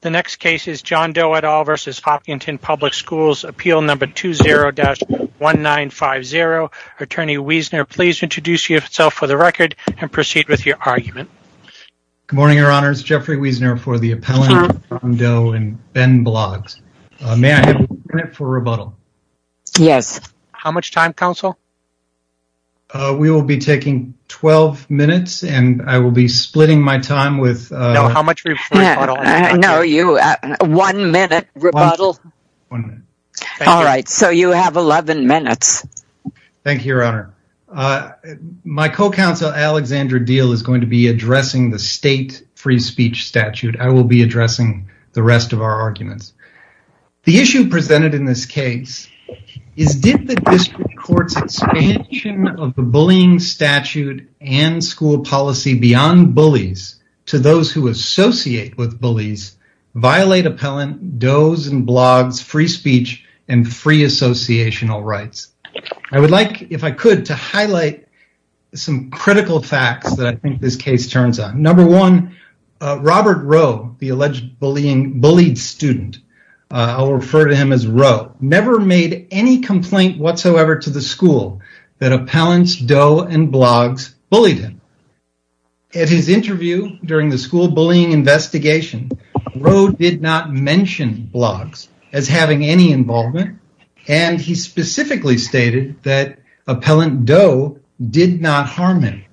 The next case is John Doe et al. v. Hopkinton Public Schools, Appeal No. 20-1950. Attorney Wiesner, please introduce yourself for the record and proceed with your argument. Good morning, Your Honors. Jeffrey Wiesner for the appellant of John Doe and Ben Bloggs. May I have a minute for rebuttal? Yes. How much time, counsel? We will be taking 12 minutes and I will be splitting my time with... No, one minute rebuttal. All right, so you have 11 minutes. Thank you, Your Honor. My co-counsel, Alexandra Deal, is going to be addressing the state free speech statute. I will be addressing the rest of our arguments. The issue presented in this case is did the district court's expansion of the bullying statute and school policy beyond bullies to those who associate with bullies violate appellant Doe's and Bloggs' free speech and free associational rights? I would like, if I could, to highlight some critical facts that I think this case turns on. Number one, Robert Rowe, the alleged bullied student, I will refer to him as Rowe, never made any complaint whatsoever to the school that appellant Doe and Bloggs bullied him. At his interview during the school bullying investigation, Rowe did not mention Bloggs as having any involvement and he specifically stated that appellant Doe did not harm him.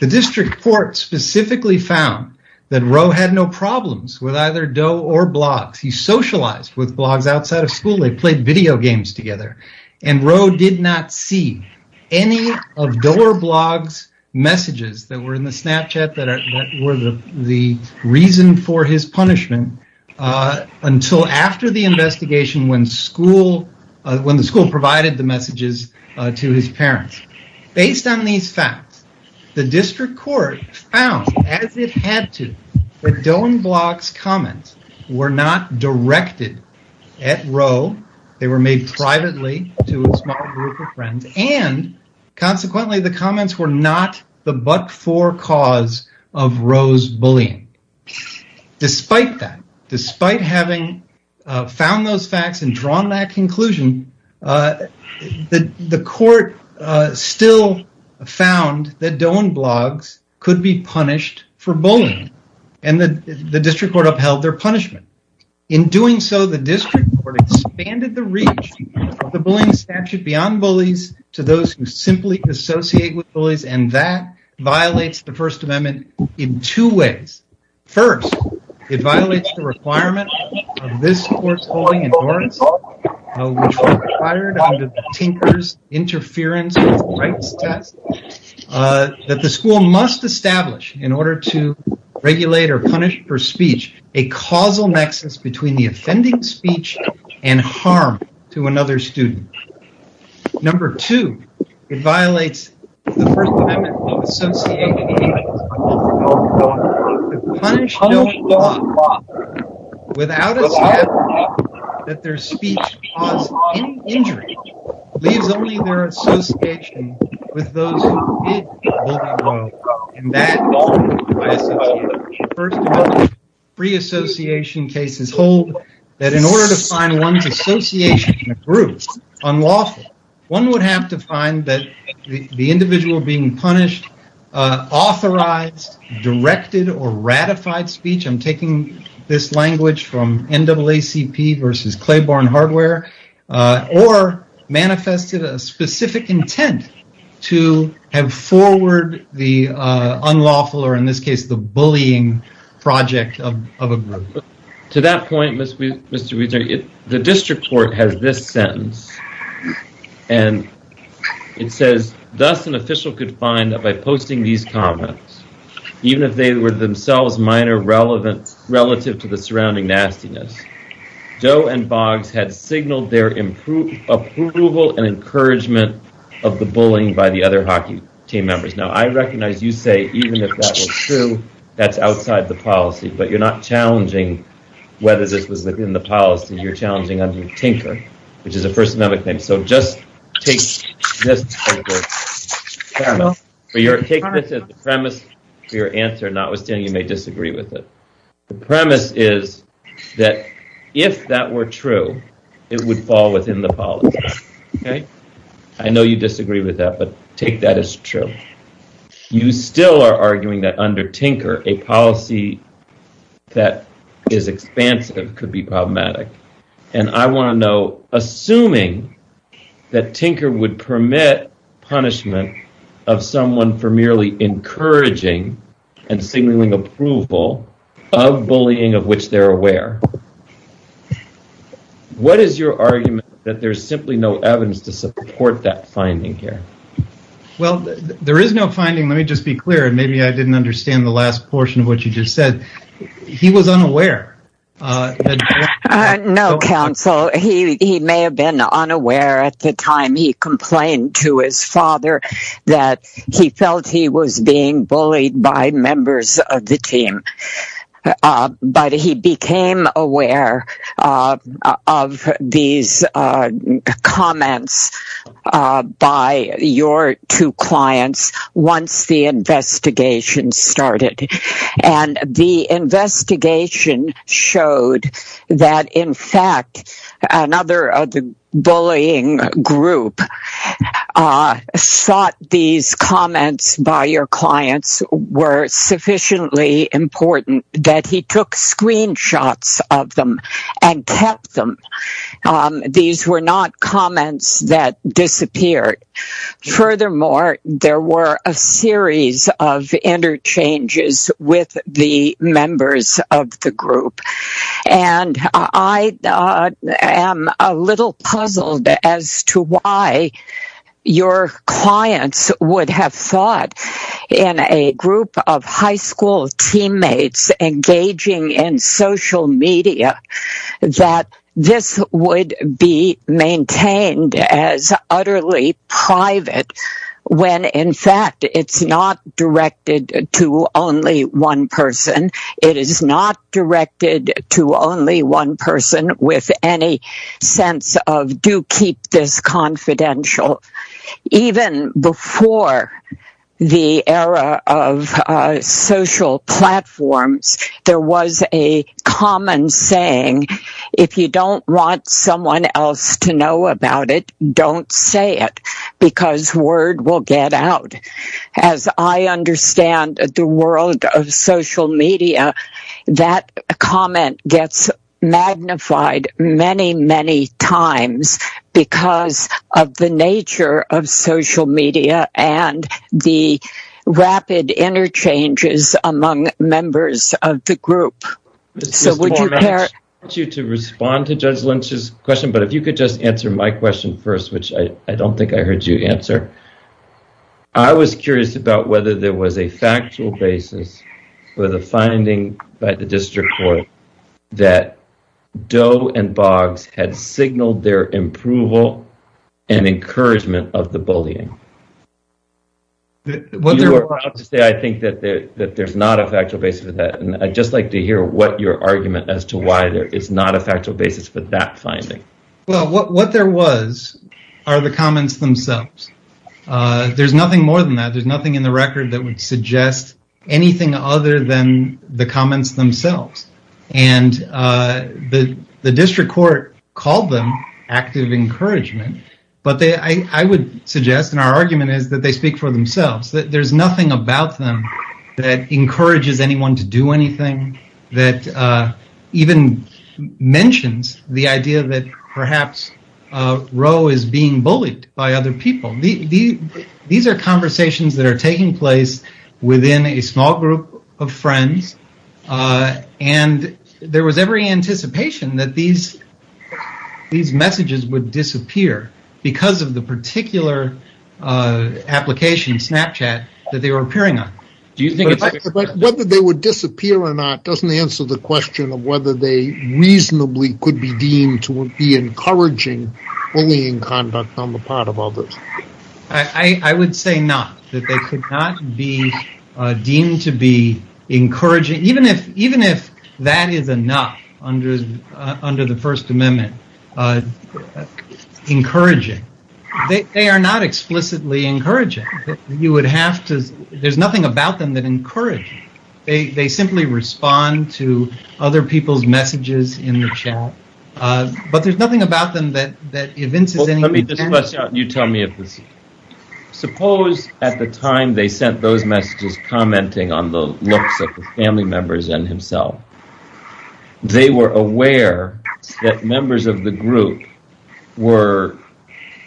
The district court specifically found that Rowe had no problems with either Doe or Bloggs. He socialized with Bloggs outside of school. They played video games together and Rowe did not see any of Doe or Bloggs messages that were in the Snapchat that were the reason for his punishment until after the investigation when the school provided the messages to his parents. Based on these facts, the district court found, as it had to, that Doe and Bloggs' comments were not directed at Rowe. They were made privately to a small group of friends and, consequently, the comments were not the but-for cause of Rowe's bullying. Despite that, despite having found those facts and drawn that conclusion, the court still found that Doe and Bloggs could be punished for bullying and the district court expanded the reach of the bullying statute beyond bullies to those who simply associate with bullies and that violates the First Amendment in two ways. First, it violates the requirement of this court's bullying endorsement, which was required under the Tinker's Interference Rights Test, that the school must establish, in order to regulate or punish for speech, a causal nexus between the offending speech and harm to another student. Number two, it violates the First Amendment to punish Doe and Bloggs without a statute that their speech caused any injury. It leaves only their association with those who did bully Rowe and that violates the First Amendment. Pre-association cases hold that, in order to find one's association in a group unlawful, one would have to find that the individual being punished authorized, directed, or ratified speech—I'm taking this language from NAACP versus Claiborne Hardware—or manifested a specific intent to have forward the unlawful or, in this case, the bullying project of a group. To that point, Mr. Wiesner, the district court has this sentence and it says, thus an official could find that by posting these comments, even if they were themselves minor relative to the surrounding nastiness, Doe and Bloggs had signaled their approval and encouragement of the bullying by the other hockey team members. Now, I recognize you say, even if that was true, that's outside the policy, but you're not challenging whether this was within the policy, you're challenging under First Amendment claims, so just take this as the premise for your answer, notwithstanding you may disagree with it. The premise is that if that were true, it would fall within the policy. I know you disagree with that, but take that as true. You still are arguing that under Tinker, a policy that is expansive could be problematic, and I want to know, assuming that Tinker would permit punishment of someone for merely encouraging and signaling approval of bullying of which they're aware, what is your argument that there's simply no evidence to support that finding here? Well, there is no finding, let me just be clear, and maybe I didn't understand the last portion of what you just said. He was unaware. No, counsel, he may have been unaware at the time he complained to his father that he felt he was being bullied by members of the team, but he became aware of these comments by your two clients once the investigation started, and the investigation showed that, in fact, another of the bullying group thought these comments by your clients were sufficiently important that he took screenshots of them and kept them. These were not comments that disappeared. Furthermore, there were a series of interchanges with the members of the group, and I am a little puzzled as to why your clients would have thought in a group of high school teammates engaging in social media that this would be maintained as utterly private when, in fact, it's not directed to only one person. It is not directed to only one person with any sense of, do keep this confidential. Even before the era of social platforms, there was a common saying, if you don't want someone else to know about it, don't say it because word will get out. As I understand the world of social media, that comment gets magnified many, many times because of the nature of social media and the rapid interchanges among members of the group. So would you care to respond to Judge Lynch's question, but if you could just answer my question first, which I don't think I heard you answer. I was curious about whether there was a factual basis for the finding by the district court that Doe and Boggs had signaled their approval and encouragement of the bullying. I think that there's not a factual basis for that, and I'd just like to hear what your argument as to why there is not a factual basis for that finding. What there was are the comments themselves. There's nothing more than that. There's nothing in the record that would suggest anything other than the comments themselves. The district court called them active encouragement, but I would suggest, and our argument is that they speak for themselves. There's nothing about them that encourages anyone to do anything, that even mentions the idea that perhaps Roe is being bullied by other people. These are conversations that are taking place within a small group of friends, and there was every anticipation that these messages would disappear because of the particular application, Snapchat, that they were appearing on. Whether they would disappear or not doesn't answer the question whether it reasonably could be deemed to be encouraging bullying conduct on the part of others. I would say not, that they could not be deemed to be encouraging, even if that is enough under the First Amendment. They are not explicitly encouraging. There's nothing about them that encourages. Suppose at the time they sent those messages commenting on the looks of the family members and himself, they were aware that members of the group were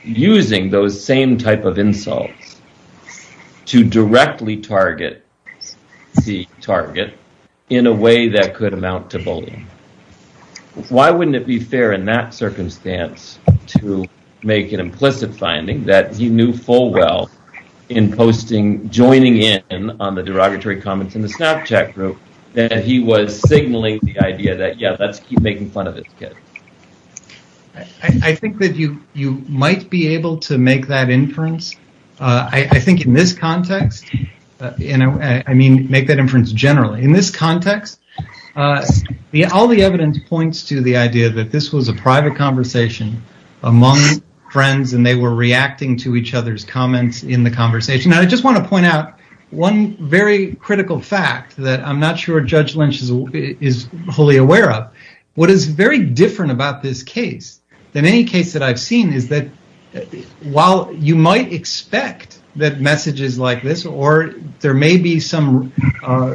using those same type of messages. Why wouldn't it be fair in that circumstance to make an implicit finding that he knew full well in joining in on the derogatory comments in the Snapchat group that he was signaling the idea that, yeah, let's keep making fun of his kids? I think that you might be able to make that inference. I think in this context, and I mean make that inference generally. In this context, all the evidence points to the idea that this was a private conversation among friends and they were reacting to each other's comments in the conversation. I just want to point out one very critical fact that I'm not sure Judge Lynch is wholly aware of. What is very different about this case than any case that I've seen is that while you might expect that messages like this or there may be some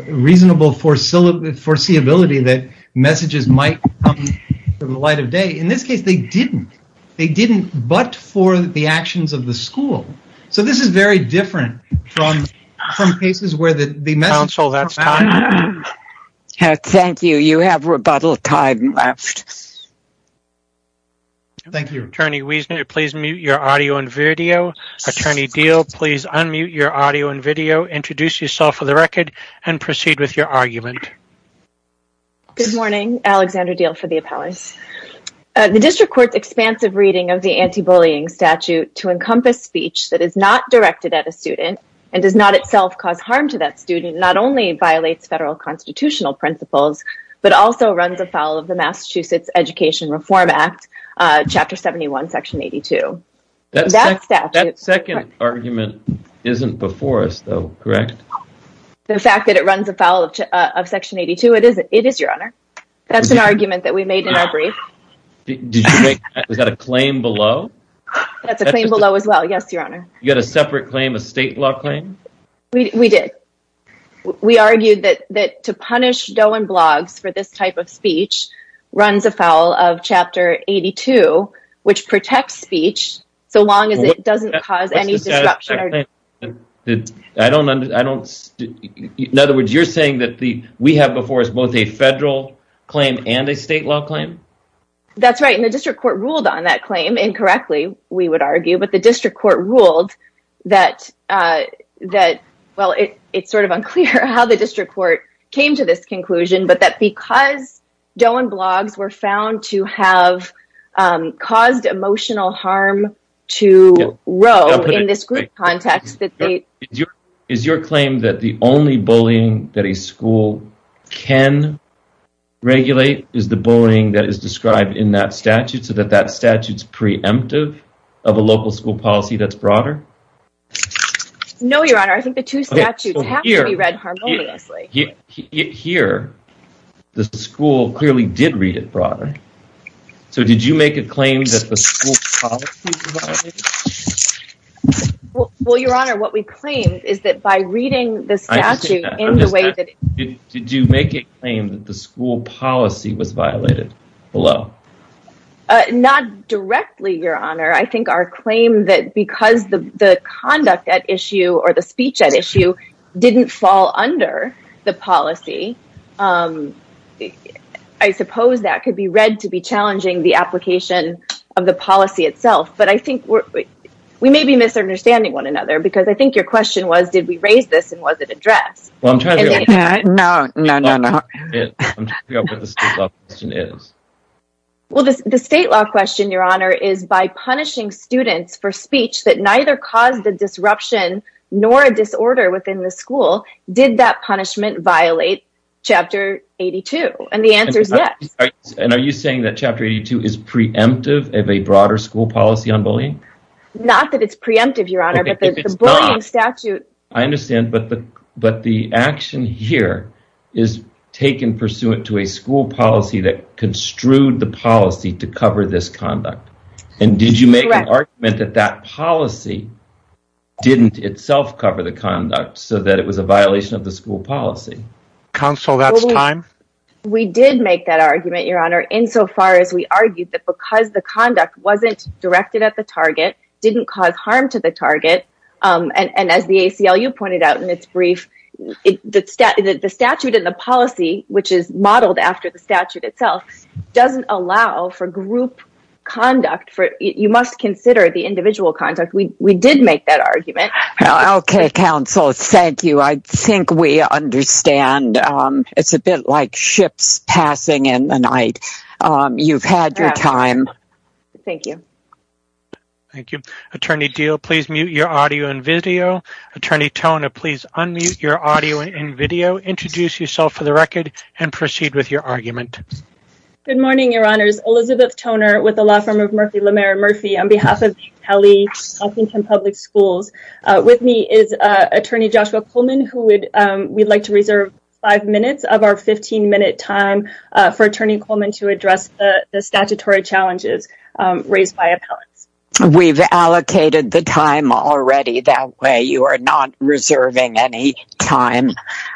reasonable foreseeability that messages might come in the light of day, in this case, they didn't. They didn't but for the actions of the school. This is very different from cases where the message... Counsel, that's time. Thank you. You have rebuttal time left. Yes. Thank you. Attorney Wiesner, please mute your audio and video. Attorney Diehl, please unmute your audio and video. Introduce yourself for the record and proceed with your argument. Good morning. Alexandra Diehl for the appellate. The district court's expansive reading of the anti-bullying statute to encompass speech that is not directed at a student and does not itself cause harm to that student not only violates federal constitutional principles but also runs afoul of the Massachusetts Education Reform Act, Chapter 71, Section 82. That second argument isn't before us though, correct? The fact that it runs afoul of Section 82, it is, Your Honor. That's an argument that we made in our brief. Was that a claim below? That's a claim below as well. Yes, Your Honor. You had a separate claim, a state law claim? We did. We argued that to punish Dohan Bloggs for this type of speech runs afoul of Chapter 82, which protects speech so long as it doesn't cause any disruption. In other words, you're saying that we have before us both a federal claim and a state law claim? That's right. The district court ruled on that claim. Incorrectly, we would argue, but the district court ruled that, well, it's sort of unclear how the district court came to this conclusion, but that because Dohan Bloggs were found to have caused emotional harm to Roe in this group context that they... Is your claim that the only bullying that a school can regulate is the bullying that is described in that statute so that that statute's preemptive of a local school policy that's broader? No, Your Honor. I think the two statutes have to be read harmoniously. Here, the school clearly did read it broader. Did you make a claim that the school policy was violated? Well, Your Honor, what we claimed is that by reading the statute in the way that... Did you make a claim that the school policy was violated below? Uh, not directly, Your Honor. I think our claim that because the conduct at issue or the speech at issue didn't fall under the policy, I suppose that could be read to be challenging the application of the policy itself. But I think we may be misunderstanding one another, because I think your question was, did we raise this and was it addressed? Well, I'm trying to... No, no, no, no. I'm trying to figure out what the state law question is. Well, the state law question, Your Honor, is by punishing students for speech that neither caused the disruption nor a disorder within the school, did that punishment violate Chapter 82? And the answer is yes. And are you saying that Chapter 82 is preemptive of a broader school policy on bullying? Not that it's preemptive, Your Honor, but the bullying statute... to a school policy that construed the policy to cover this conduct. And did you make an argument that that policy didn't itself cover the conduct so that it was a violation of the school policy? Counsel, that's time. We did make that argument, Your Honor, insofar as we argued that because the conduct wasn't directed at the target, didn't cause harm to the target, and as the ACLU pointed out in its brief, the statute and the policy, which is modeled after the statute itself, doesn't allow for group conduct. You must consider the individual conduct. We did make that argument. Okay, counsel. Thank you. I think we understand. It's a bit like ships passing in the night. You've had your time. Thank you. Thank you. Attorney Deal, please mute your audio and video. Attorney Toner, please unmute your audio and video, introduce yourself for the record, and proceed with your argument. Good morning, Your Honors. Elizabeth Toner with the law firm of Murphy LeMaire Murphy on behalf of the Kelly Huffington Public Schools. With me is Attorney Joshua Coleman, who we'd like to reserve five minutes of our 15-minute time for Attorney Coleman to address the statutory challenges raised by appellants. We've allocated the time already. That way, you are not reserving any time.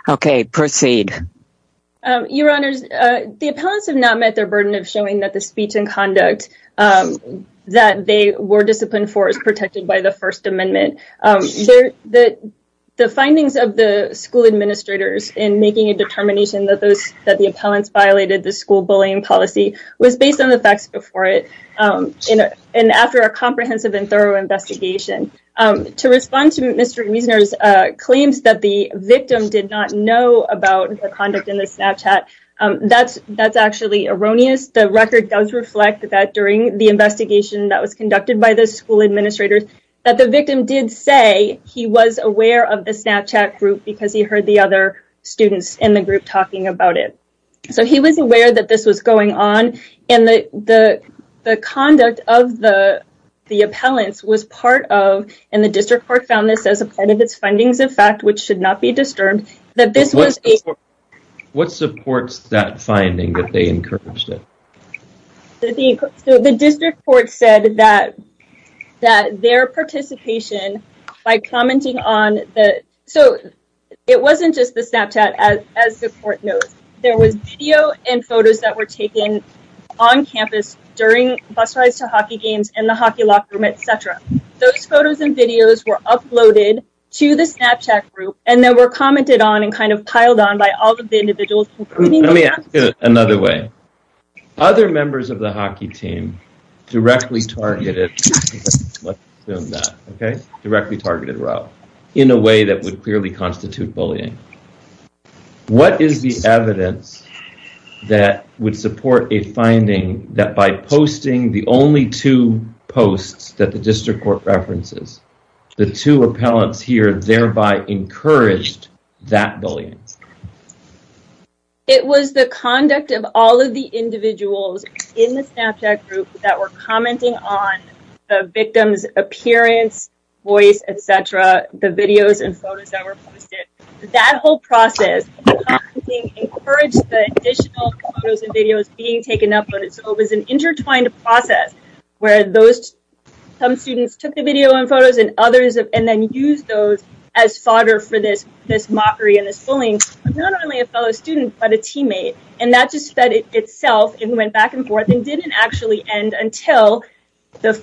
Okay, proceed. Your Honors, the appellants have not met their burden of showing that the speech and conduct that they were disciplined for is protected by the First Amendment. The findings of the school administrators in making a determination that the appellants violated the school bullying policy was based on the facts before it and after a comprehensive and thorough investigation. To respond to Mr. Reisner's claims that the victim did not know about the conduct in the Snapchat, that's actually erroneous. The record does reflect that during the investigation that was conducted by the school administrators, that the victim did say he was aware of the Snapchat group because he heard the other students in the group talking about it. So, he was aware that this was going on and the conduct of the appellants was part of, and the District Court found this as a part of its findings of fact, which should not be disturbed, that this was a... What supports that finding that they encouraged it? The District Court said that their participation by commenting on the... So, it wasn't just the Snapchat as the court knows. There was video and photos that were taken on campus during bus rides to hockey games in the hockey locker room, etc. Those photos and videos were uploaded to the Snapchat group and then were commented on and kind of piled on by all of the individuals. Another way, other members of the hockey team directly targeted... Let's assume that, okay? In a way that would clearly constitute bullying. What is the evidence that would support a finding that by posting the only two posts that the District Court references, the two appellants here thereby encouraged that bullying? It was the conduct of all of the individuals in the Snapchat group that were commenting on the victim's appearance, voice, etc., the videos and photos that were posted. That whole process of commenting encouraged the additional photos and videos being taken up. So, it was an intertwined process where those... Some students took the video and photos and others... And then used those as fodder for this mockery and this bullying. Not only a fellow student, but a teammate. And that just fed itself and went back and forth and didn't actually end until the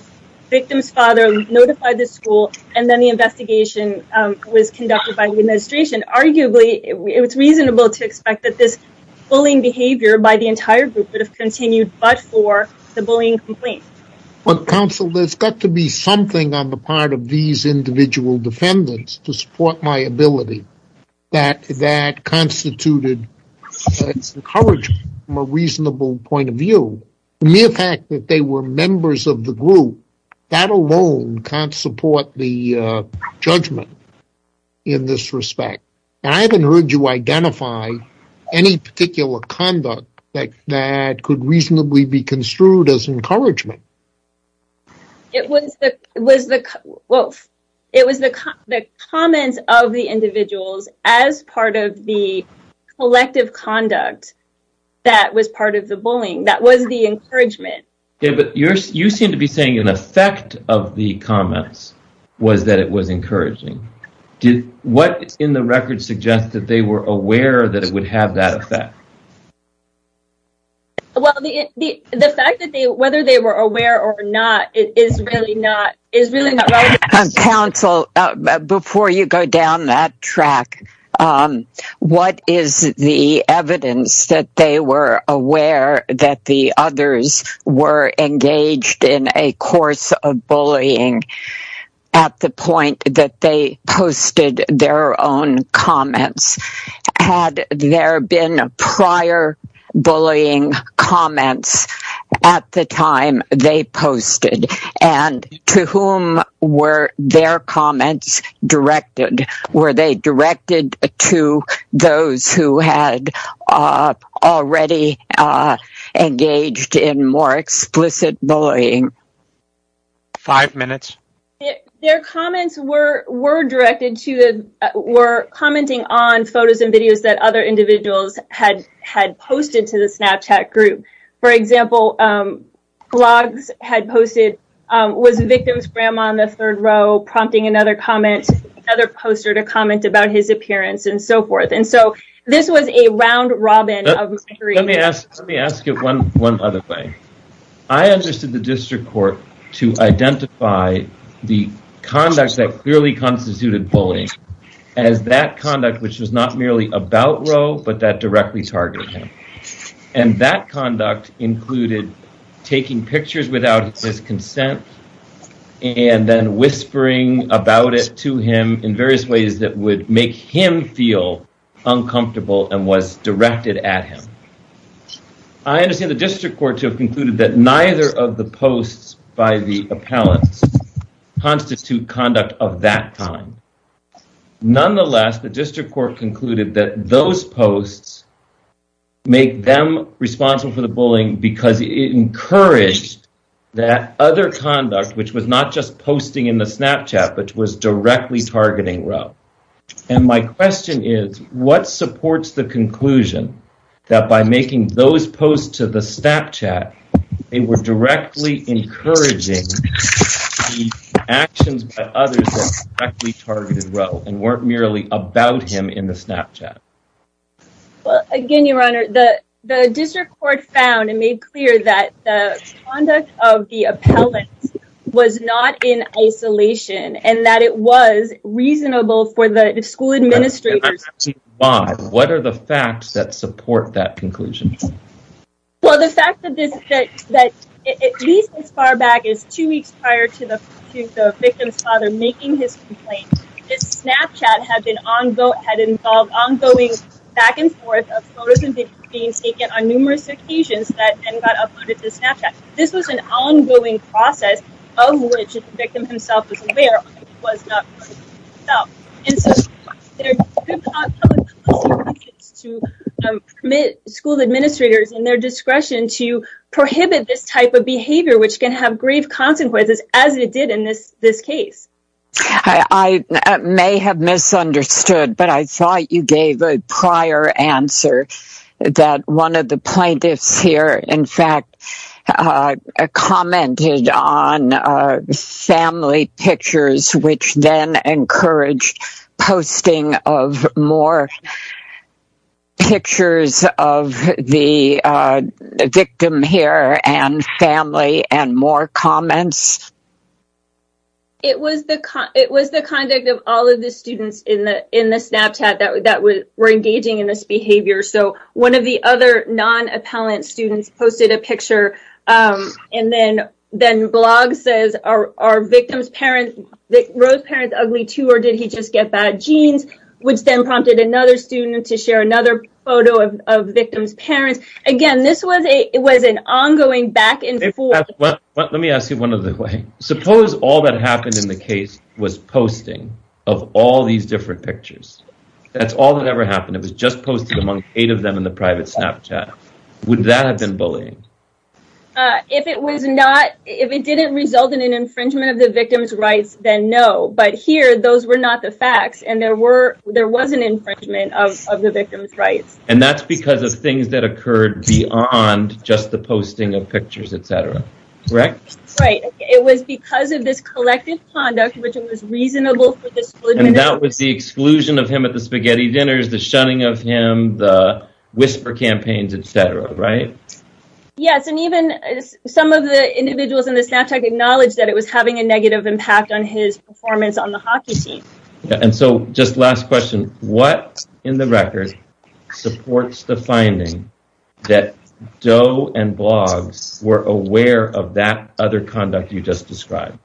victim's father notified the school and then the investigation was conducted by the administration. Arguably, it was reasonable to expect that this bullying behavior by the entire group would have continued but for the bullying complaint. Well, counsel, there's got to be something on the part of these individual defendants to support my constituted encouragement from a reasonable point of view. The mere fact that they were members of the group, that alone can't support the judgment in this respect. And I haven't heard you identify any particular conduct that could reasonably be construed as encouragement. It was the... Well, it was the comments of the individuals as part of the collective conduct that was part of the bullying. That was the encouragement. Yeah, but you seem to be saying an effect of the comments was that it was encouraging. Did what in the record suggest that they were aware that it would have that effect? Well, the fact that they, whether they were aware or not, it is really not relevant. Counsel, before you go down that track, what is the evidence that they were aware that the others were engaged in a course of bullying at the point that they posted their own comments? Had there been prior bullying comments at the time they posted? And to whom were their comments directed? Were they directed to those who had already engaged in more explicit bullying? Five minutes. Their comments were commenting on photos and videos that other individuals had posted to the Snapchat group. For example, blogs had posted, was the victim's grandma in the third row, prompting another comment, another poster to comment about his appearance and so forth. And so this was a round robin of... Let me ask you one other thing. I understood the district court to identify the conduct that clearly constituted bullying as that conduct, which was not merely about Roe, but that directly targeted him. And that conduct included taking pictures without his consent and then whispering about it to him in various ways that would make him feel uncomfortable and was directed at him. I understand the district court to have concluded that neither of the posts by the appellants constitute conduct of that time. Nonetheless, the district court concluded that those posts make them responsible for the bullying because it encouraged that other conduct, which was not just posting in the Snapchat, but was directly targeting Roe. And my question is, what supports the conclusion that by making those posts to the Snapchat, they were directly encouraging the actions by others that directly targeted Roe and weren't merely about him in the Snapchat? Well, again, your honor, the district court found and made clear that the conduct of the appellant was not in isolation and that it was reasonable for the school administrators. And I'm asking why. What are the facts that support that conclusion? Well, the fact that at least as far back as two weeks prior to the victim's father making his complaint, his Snapchat had been ongoing, had involved ongoing back and forth of photos and videos being taken on numerous occasions that then got uploaded to Snapchat. This was an ongoing process of which the victim himself was aware of. And so there could be consequences to permit school administrators in their discretion to prohibit this type of behavior, which can have grave consequences as it did in this case. I may have misunderstood, but I thought you gave a prior answer that one of the plaintiffs here, in fact, commented on family pictures, which then encouraged posting of more pictures of the victim here and family and more comments. It was the conduct of all of the students in the Snapchat that were engaging in this behavior. So one of the other non-appellant students posted a picture and then blog says, are the victim's parents ugly too or did he just get bad genes, which then prompted another student to share another photo of the victim's parents. Again, this was an ongoing back and forth. Let me ask you one other way. Suppose all that happened in the case was posting of all these different pictures. That's all that ever happened. It was just posted among eight of them in the private Snapchat. Would that have been bullying? If it didn't result in an infringement of the victim's rights, then no. But here, those were not the facts and there was an infringement of the victim's rights. And that's because of things that occurred beyond just the posting of pictures, et cetera, correct? Right. It was because of this collective conduct, which was reasonable. And that was the exclusion of him at the spaghetti dinners, the shunning of him, the whisper campaigns, et cetera, right? Yes. And even some of the individuals in the Snapchat acknowledged that it was having a negative impact on his performance on the hockey team. And so just last question, what in the record supports the finding that Doe and blogs were aware of that other conduct you just described?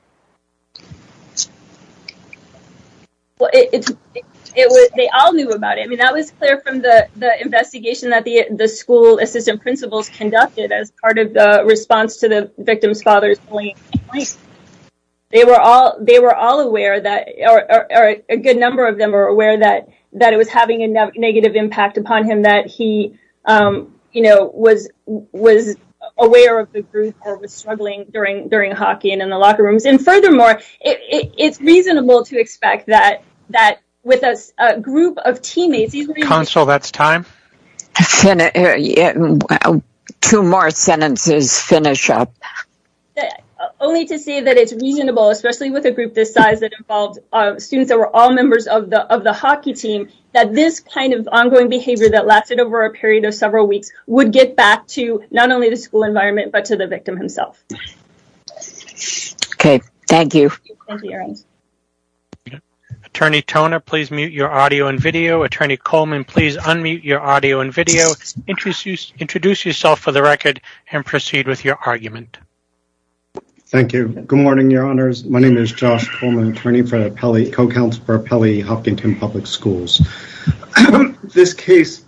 Well, they all knew about it. I mean, that was clear from the investigation that the school assistant principals conducted as part of the response to the victim's father's bullying. They were all aware that a good number of them are aware that it was having a negative impact upon him that he was aware of the group or was struggling during hockey and in the locker rooms. And furthermore, it's reasonable to expect that with a group of teammates... Counsel, that's time. Two more sentences finish up. Only to say that it's reasonable, especially with a group this size that involved students that were all members of the hockey team, that this kind of ongoing behavior that lasted over a period of several weeks would get back to not only the school environment, but to the victim himself. Okay. Thank you. Attorney Toner, please mute your audio and video. Attorney Coleman, please unmute your audio and video. Introduce yourself for the record and proceed with your argument. Thank you. Good morning, Your Honors. My name is Josh Coleman, attorney for co-counselor of Pelley Huffington Public Schools. This case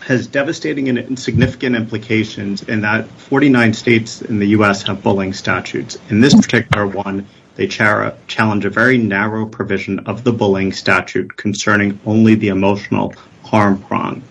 has devastating and insignificant implications in that 49 states in the U.S. have bullying statutes. In this particular one, they challenge a very narrow provision of the bullying statute concerning only the emotional harm prong.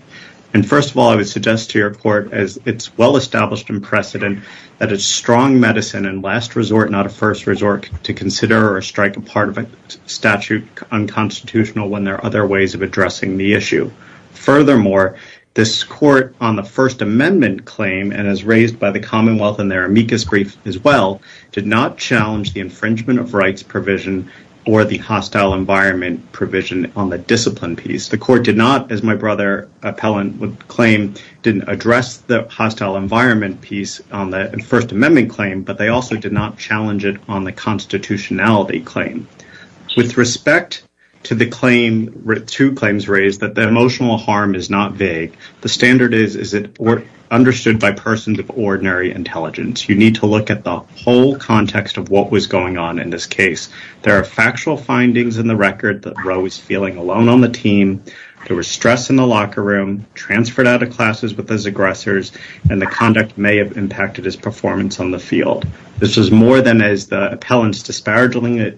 And first of all, I would suggest to your court, as it's well-established in precedent, that it's strong medicine and last resort, not a first resort to consider or strike a part of a statute unconstitutional when there are other ways of addressing the issue. Furthermore, this court on the First Amendment claim, and as raised by the Commonwealth in their amicus brief as well, did not challenge the infringement of rights provision or the hostile environment provision on the discipline piece. The court did not, as my brother Appellant would claim, didn't address the hostile environment piece on the First Amendment claim, but they also did not to the claim, two claims raised, that the emotional harm is not vague. The standard is, is it understood by persons of ordinary intelligence? You need to look at the whole context of what was going on in this case. There are factual findings in the record that Roe was feeling alone on the team, there was stress in the locker room, transferred out of classes with his aggressors, and the conduct may have impacted his performance on the field. This was more than, as the Appellants disparagingly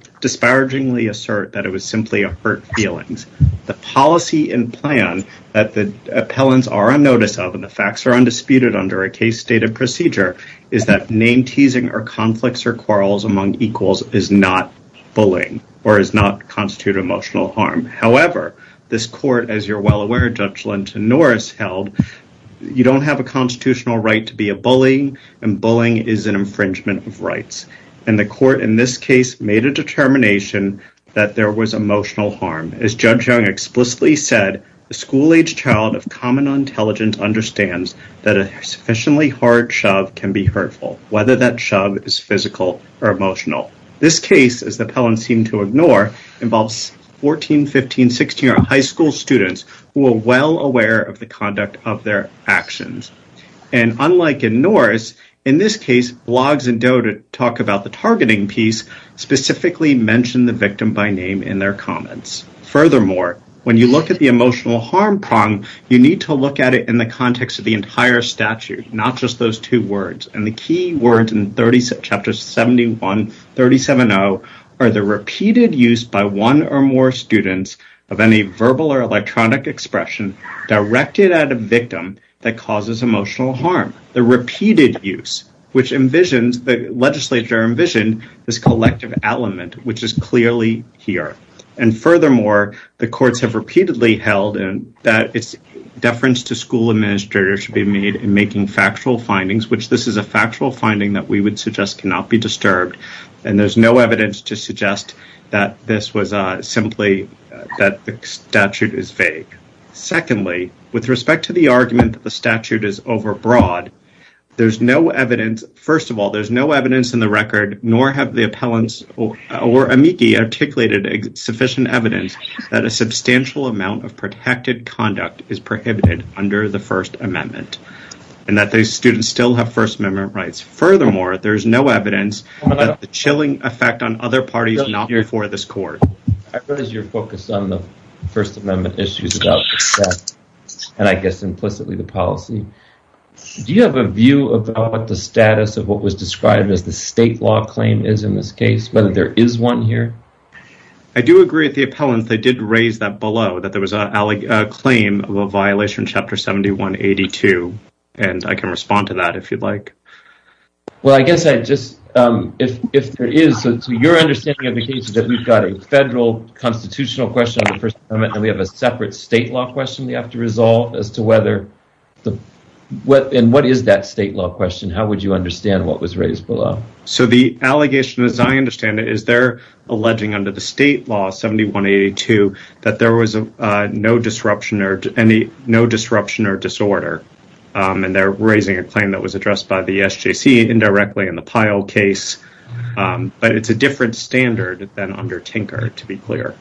assert, that it was simply a hurt feelings. The policy and plan that the Appellants are on notice of, and the facts are undisputed under a case-stated procedure, is that name-teasing or conflicts or quarrels among equals is not bullying or is not constituted emotional harm. However, this court, as you're well aware, Judge Linton Norris held, you don't have a constitutional right to be a bully, and bullying is an infringement of rights. And the court, in this case, made a determination that there was emotional harm. As Judge Young explicitly said, a school-age child of common intelligence understands that a sufficiently hard shove can be hurtful, whether that shove is physical or emotional. This case, as the Appellants seem to ignore, involves 14, 15, 16-year-old high school students who are well aware of the conduct of their actions. And unlike in Norris, in this case, Bloggs and Doe, to talk about the targeting piece, specifically mentioned the victim by name in their comments. Furthermore, when you look at the emotional harm prong, you need to look at it in the context of the entire statute, not just those two words. And the key words in Chapter 71-37-0 are the repeated use by one or more students of any verbal or electronic expression directed at a victim that causes emotional harm. The repeated use, which envisions, the legislature envisioned, this collective element, which is clearly here. And furthermore, the courts have repeatedly held in that it's deference to school administrators should be made in making factual findings, which this is a factual finding that we would suggest cannot be disturbed. And there's no evidence to suggest that this was simply that the statute is vague. Secondly, with respect to the argument that the statute is overbroad, there's no evidence. First of all, there's no evidence in the record, nor have the Appellants or Amici articulated sufficient evidence that a substantial amount of protected conduct is prohibited under the First Amendment and that those students still have First Amendment rights. Furthermore, there's no evidence that the chilling effect on other parties not here for this court. I've noticed you're focused on the First Amendment issues about success, and I guess implicitly the policy. Do you have a view about the status of what was described as the state law claim is in this case, whether there is one here? I do agree with the Appellants. They did raise that below, that there was a claim of a violation in Chapter 71-82, and I can respond to that if you'd like. Well, I guess I just, if there is, so to your understanding of the case, that we've got a federal constitutional question on the First Amendment, and we have a separate state law question we have to resolve as to whether, and what is that state law question? How would you understand what was raised below? So the allegation, as I understand it, is they're alleging under the state law, 71-82, that there was no disruption or disorder, and they're raising a claim that was addressed by the SJC indirectly in the Pyle case, but it's a different standard than under Tinker, to be clear.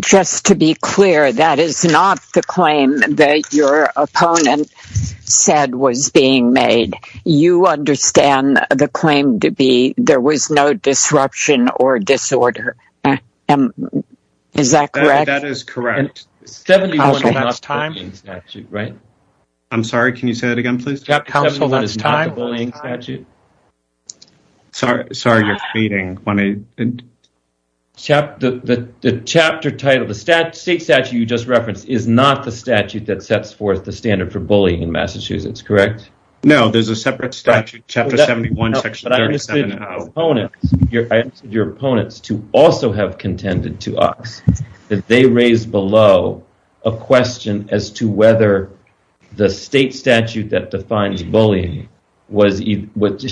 Just to be clear, that is not the claim that your opponent said was being made. You understand the claim to be there was no disruption or disorder. Is that correct? That is correct. 71 is not the bullying statute, right? I'm sorry, can you say that again, please? Sorry, you're fading. The chapter title, the state statute you just referenced, is not the statute that sets forth the standard for bullying in Massachusetts, correct? No, there's a separate statute, Chapter 71, Section 37-0. I understood your opponents to also have contended to us that they raised below a question as to whether the state statute that defines bullying was,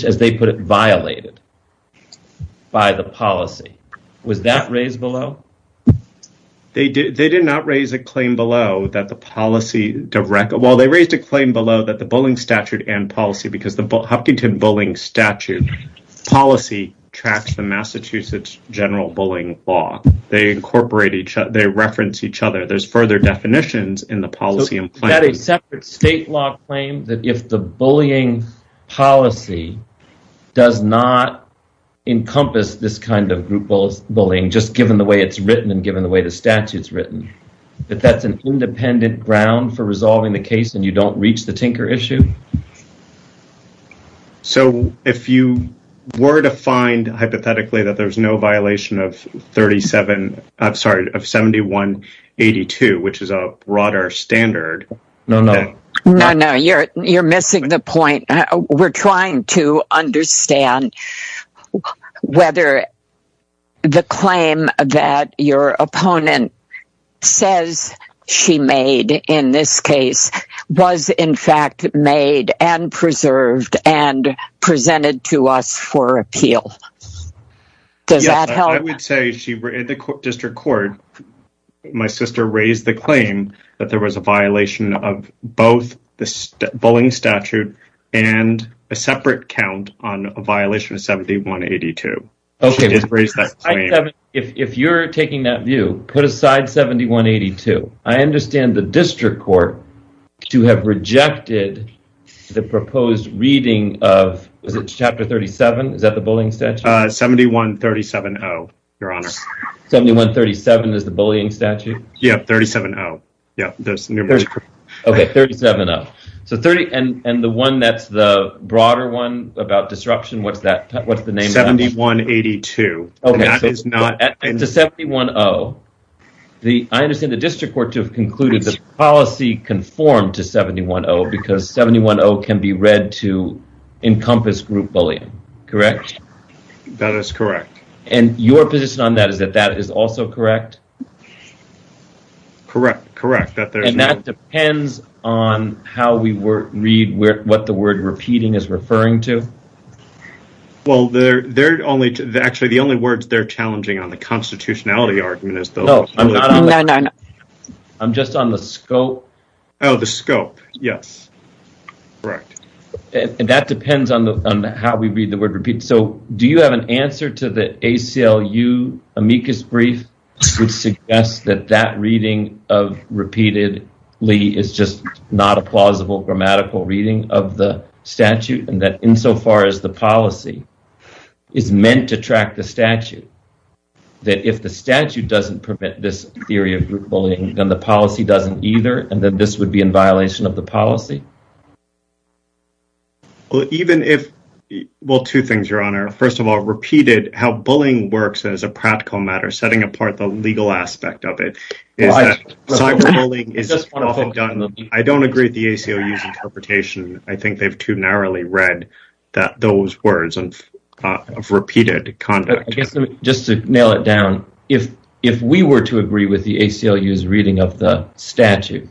as they put it, violated by the policy. Was that raised below? They did not raise a claim below that the policy, well, they raised a claim below that bullying statute and policy, because the Huffington Bullying Statute policy tracks the Massachusetts general bullying law. They incorporate each other. They reference each other. There's further definitions in the policy and plan. Is that a separate state law claim, that if the bullying policy does not encompass this kind of bullying, just given the way it's written and given the way the statute's written, that that's an independent ground for resolving the case and you don't reach the tinker issue? So, if you were to find, hypothetically, that there's no violation of 71-82, which is a broader standard... No, no, no, you're missing the point. We're trying to understand whether the claim that your opponent says she made in this case was, in fact, made and preserved and presented to us for appeal. Does that help? I would say, in the district court, my sister raised the claim that there was a violation of both the bullying statute and a separate count on a violation of 71-82. She did raise that claim. If you're taking that view, put aside 71-82. I understand the district court to have rejected the proposed reading of chapter 37. Is that the bullying statute? 71-37-0, your honor. 71-37 is the bullying statute? Yeah, 37-0. Okay, 37-0. And the one that's the broader one about disruption, what's the name? 71-82. Okay, so 71-0, I understand the district court to have concluded the policy conformed to 71-0 because 71-0 can be read to encompass group bullying, correct? That is correct. And your position on that is that that is also correct? Correct, correct. And that depends on how we read what the word repeating is referring to? Well, actually, the only words they're challenging on the constitutionality argument is... I'm just on the scope. Oh, the scope, yes, correct. And that depends on how we read the word repeat. So do you have an answer to the ACLU amicus brief which suggests that that reading of repeatedly is just not a plausible grammatical reading of the policy and is meant to track the statute? That if the statute doesn't permit this theory of group bullying, then the policy doesn't either, and then this would be in violation of the policy? Well, two things, your honor. First of all, repeated, how bullying works as a practical matter, setting apart the legal aspect of it. I don't agree with the ACLU's interpretation. I think they've too narrowly read those words of repeated conduct. I guess just to nail it down, if we were to agree with the ACLU's reading of the statute,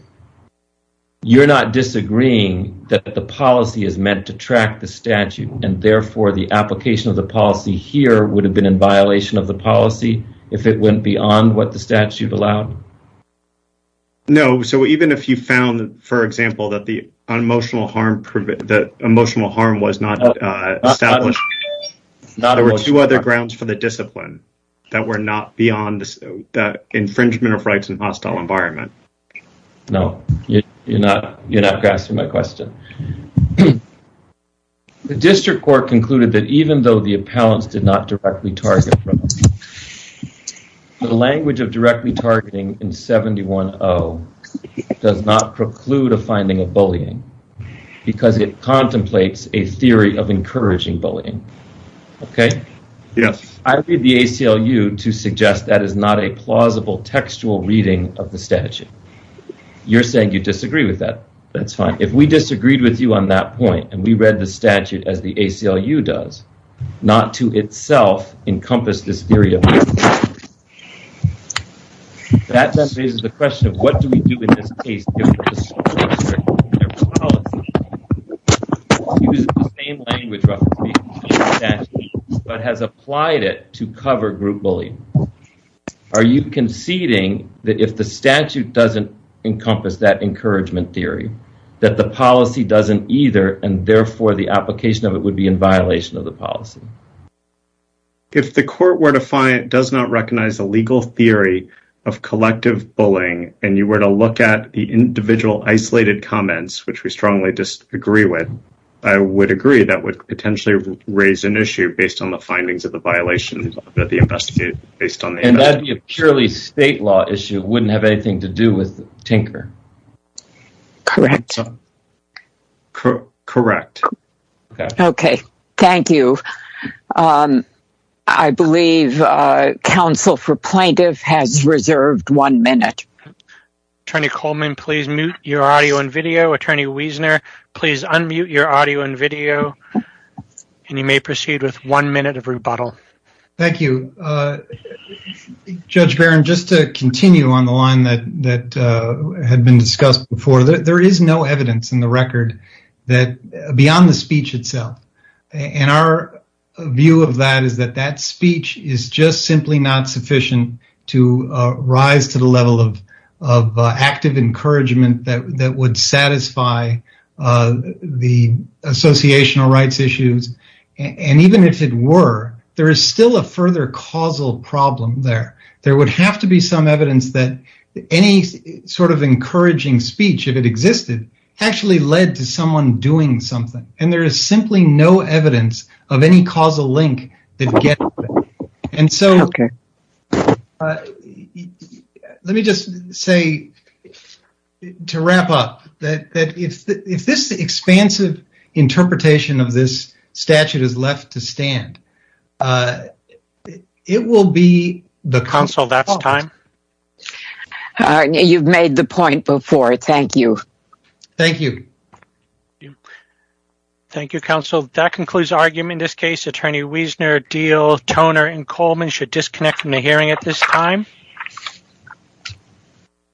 you're not disagreeing that the policy is meant to track the statute, and therefore the application of the policy here would have been in violation of the policy if it went beyond what the statute allowed? No. So even if you found, for example, that the emotional harm was not established, there were two other grounds for the discipline that were not beyond the infringement of rights in a hostile environment. No, you're not grasping my question. The district court concluded that even though the appellants did not directly target, the language of directly targeting in 71-0 does not preclude a finding of bullying because it contemplates a theory of encouraging bullying. Okay? Yes. I read the ACLU to suggest that is not a plausible textual reading of the statute. You're saying you disagree with that. That's fine. If we disagreed with you on that point, and we read the statute as the ACLU does, not to itself encompass this theory of bullying. That then raises the question of what do we do in this case? If the district court, in their policy, uses the same language, roughly speaking, but has applied it to cover group bullying, are you conceding that if the statute doesn't encompass that encouragement theory, that the policy doesn't either, and therefore, the application of it would be in violation of the policy? If the court were to find it does not recognize the legal theory of collective bullying, and you were to look at the individual isolated comments, which we strongly disagree with, I would agree that would potentially raise an issue based on the findings of the violation that the investigator based on the investigation. And that purely state law issue wouldn't have anything to do with Tinker. Correct. Correct. Okay. Thank you. I believe counsel for plaintiff has reserved one minute. Attorney Coleman, please mute your audio and video. Attorney Wiesner, please unmute your audio and video. And you may proceed with one minute of rebuttal. Thank you. Judge Barron, just to continue on the line that had been discussed before, there is no evidence in the record that beyond the speech itself. And our view of that is that that speech is just simply not sufficient to rise to the level of active encouragement that would satisfy the associational rights issues. And even if it were, there is still a further causal problem there. There would have to be some evidence that any sort of encouraging speech, if it existed, actually led to someone doing something. And there is simply no evidence of any causal link. And so, let me just say, to wrap up, that if this expansive interpretation of this statute is left to stand, it will be the... Counsel, that's time. You've made the point before. Thank you. Thank you. Thank you, counsel. That concludes argument in this case. Attorney Wiesner, Diehl, Toner, and Coleman should disconnect from the hearing at this time.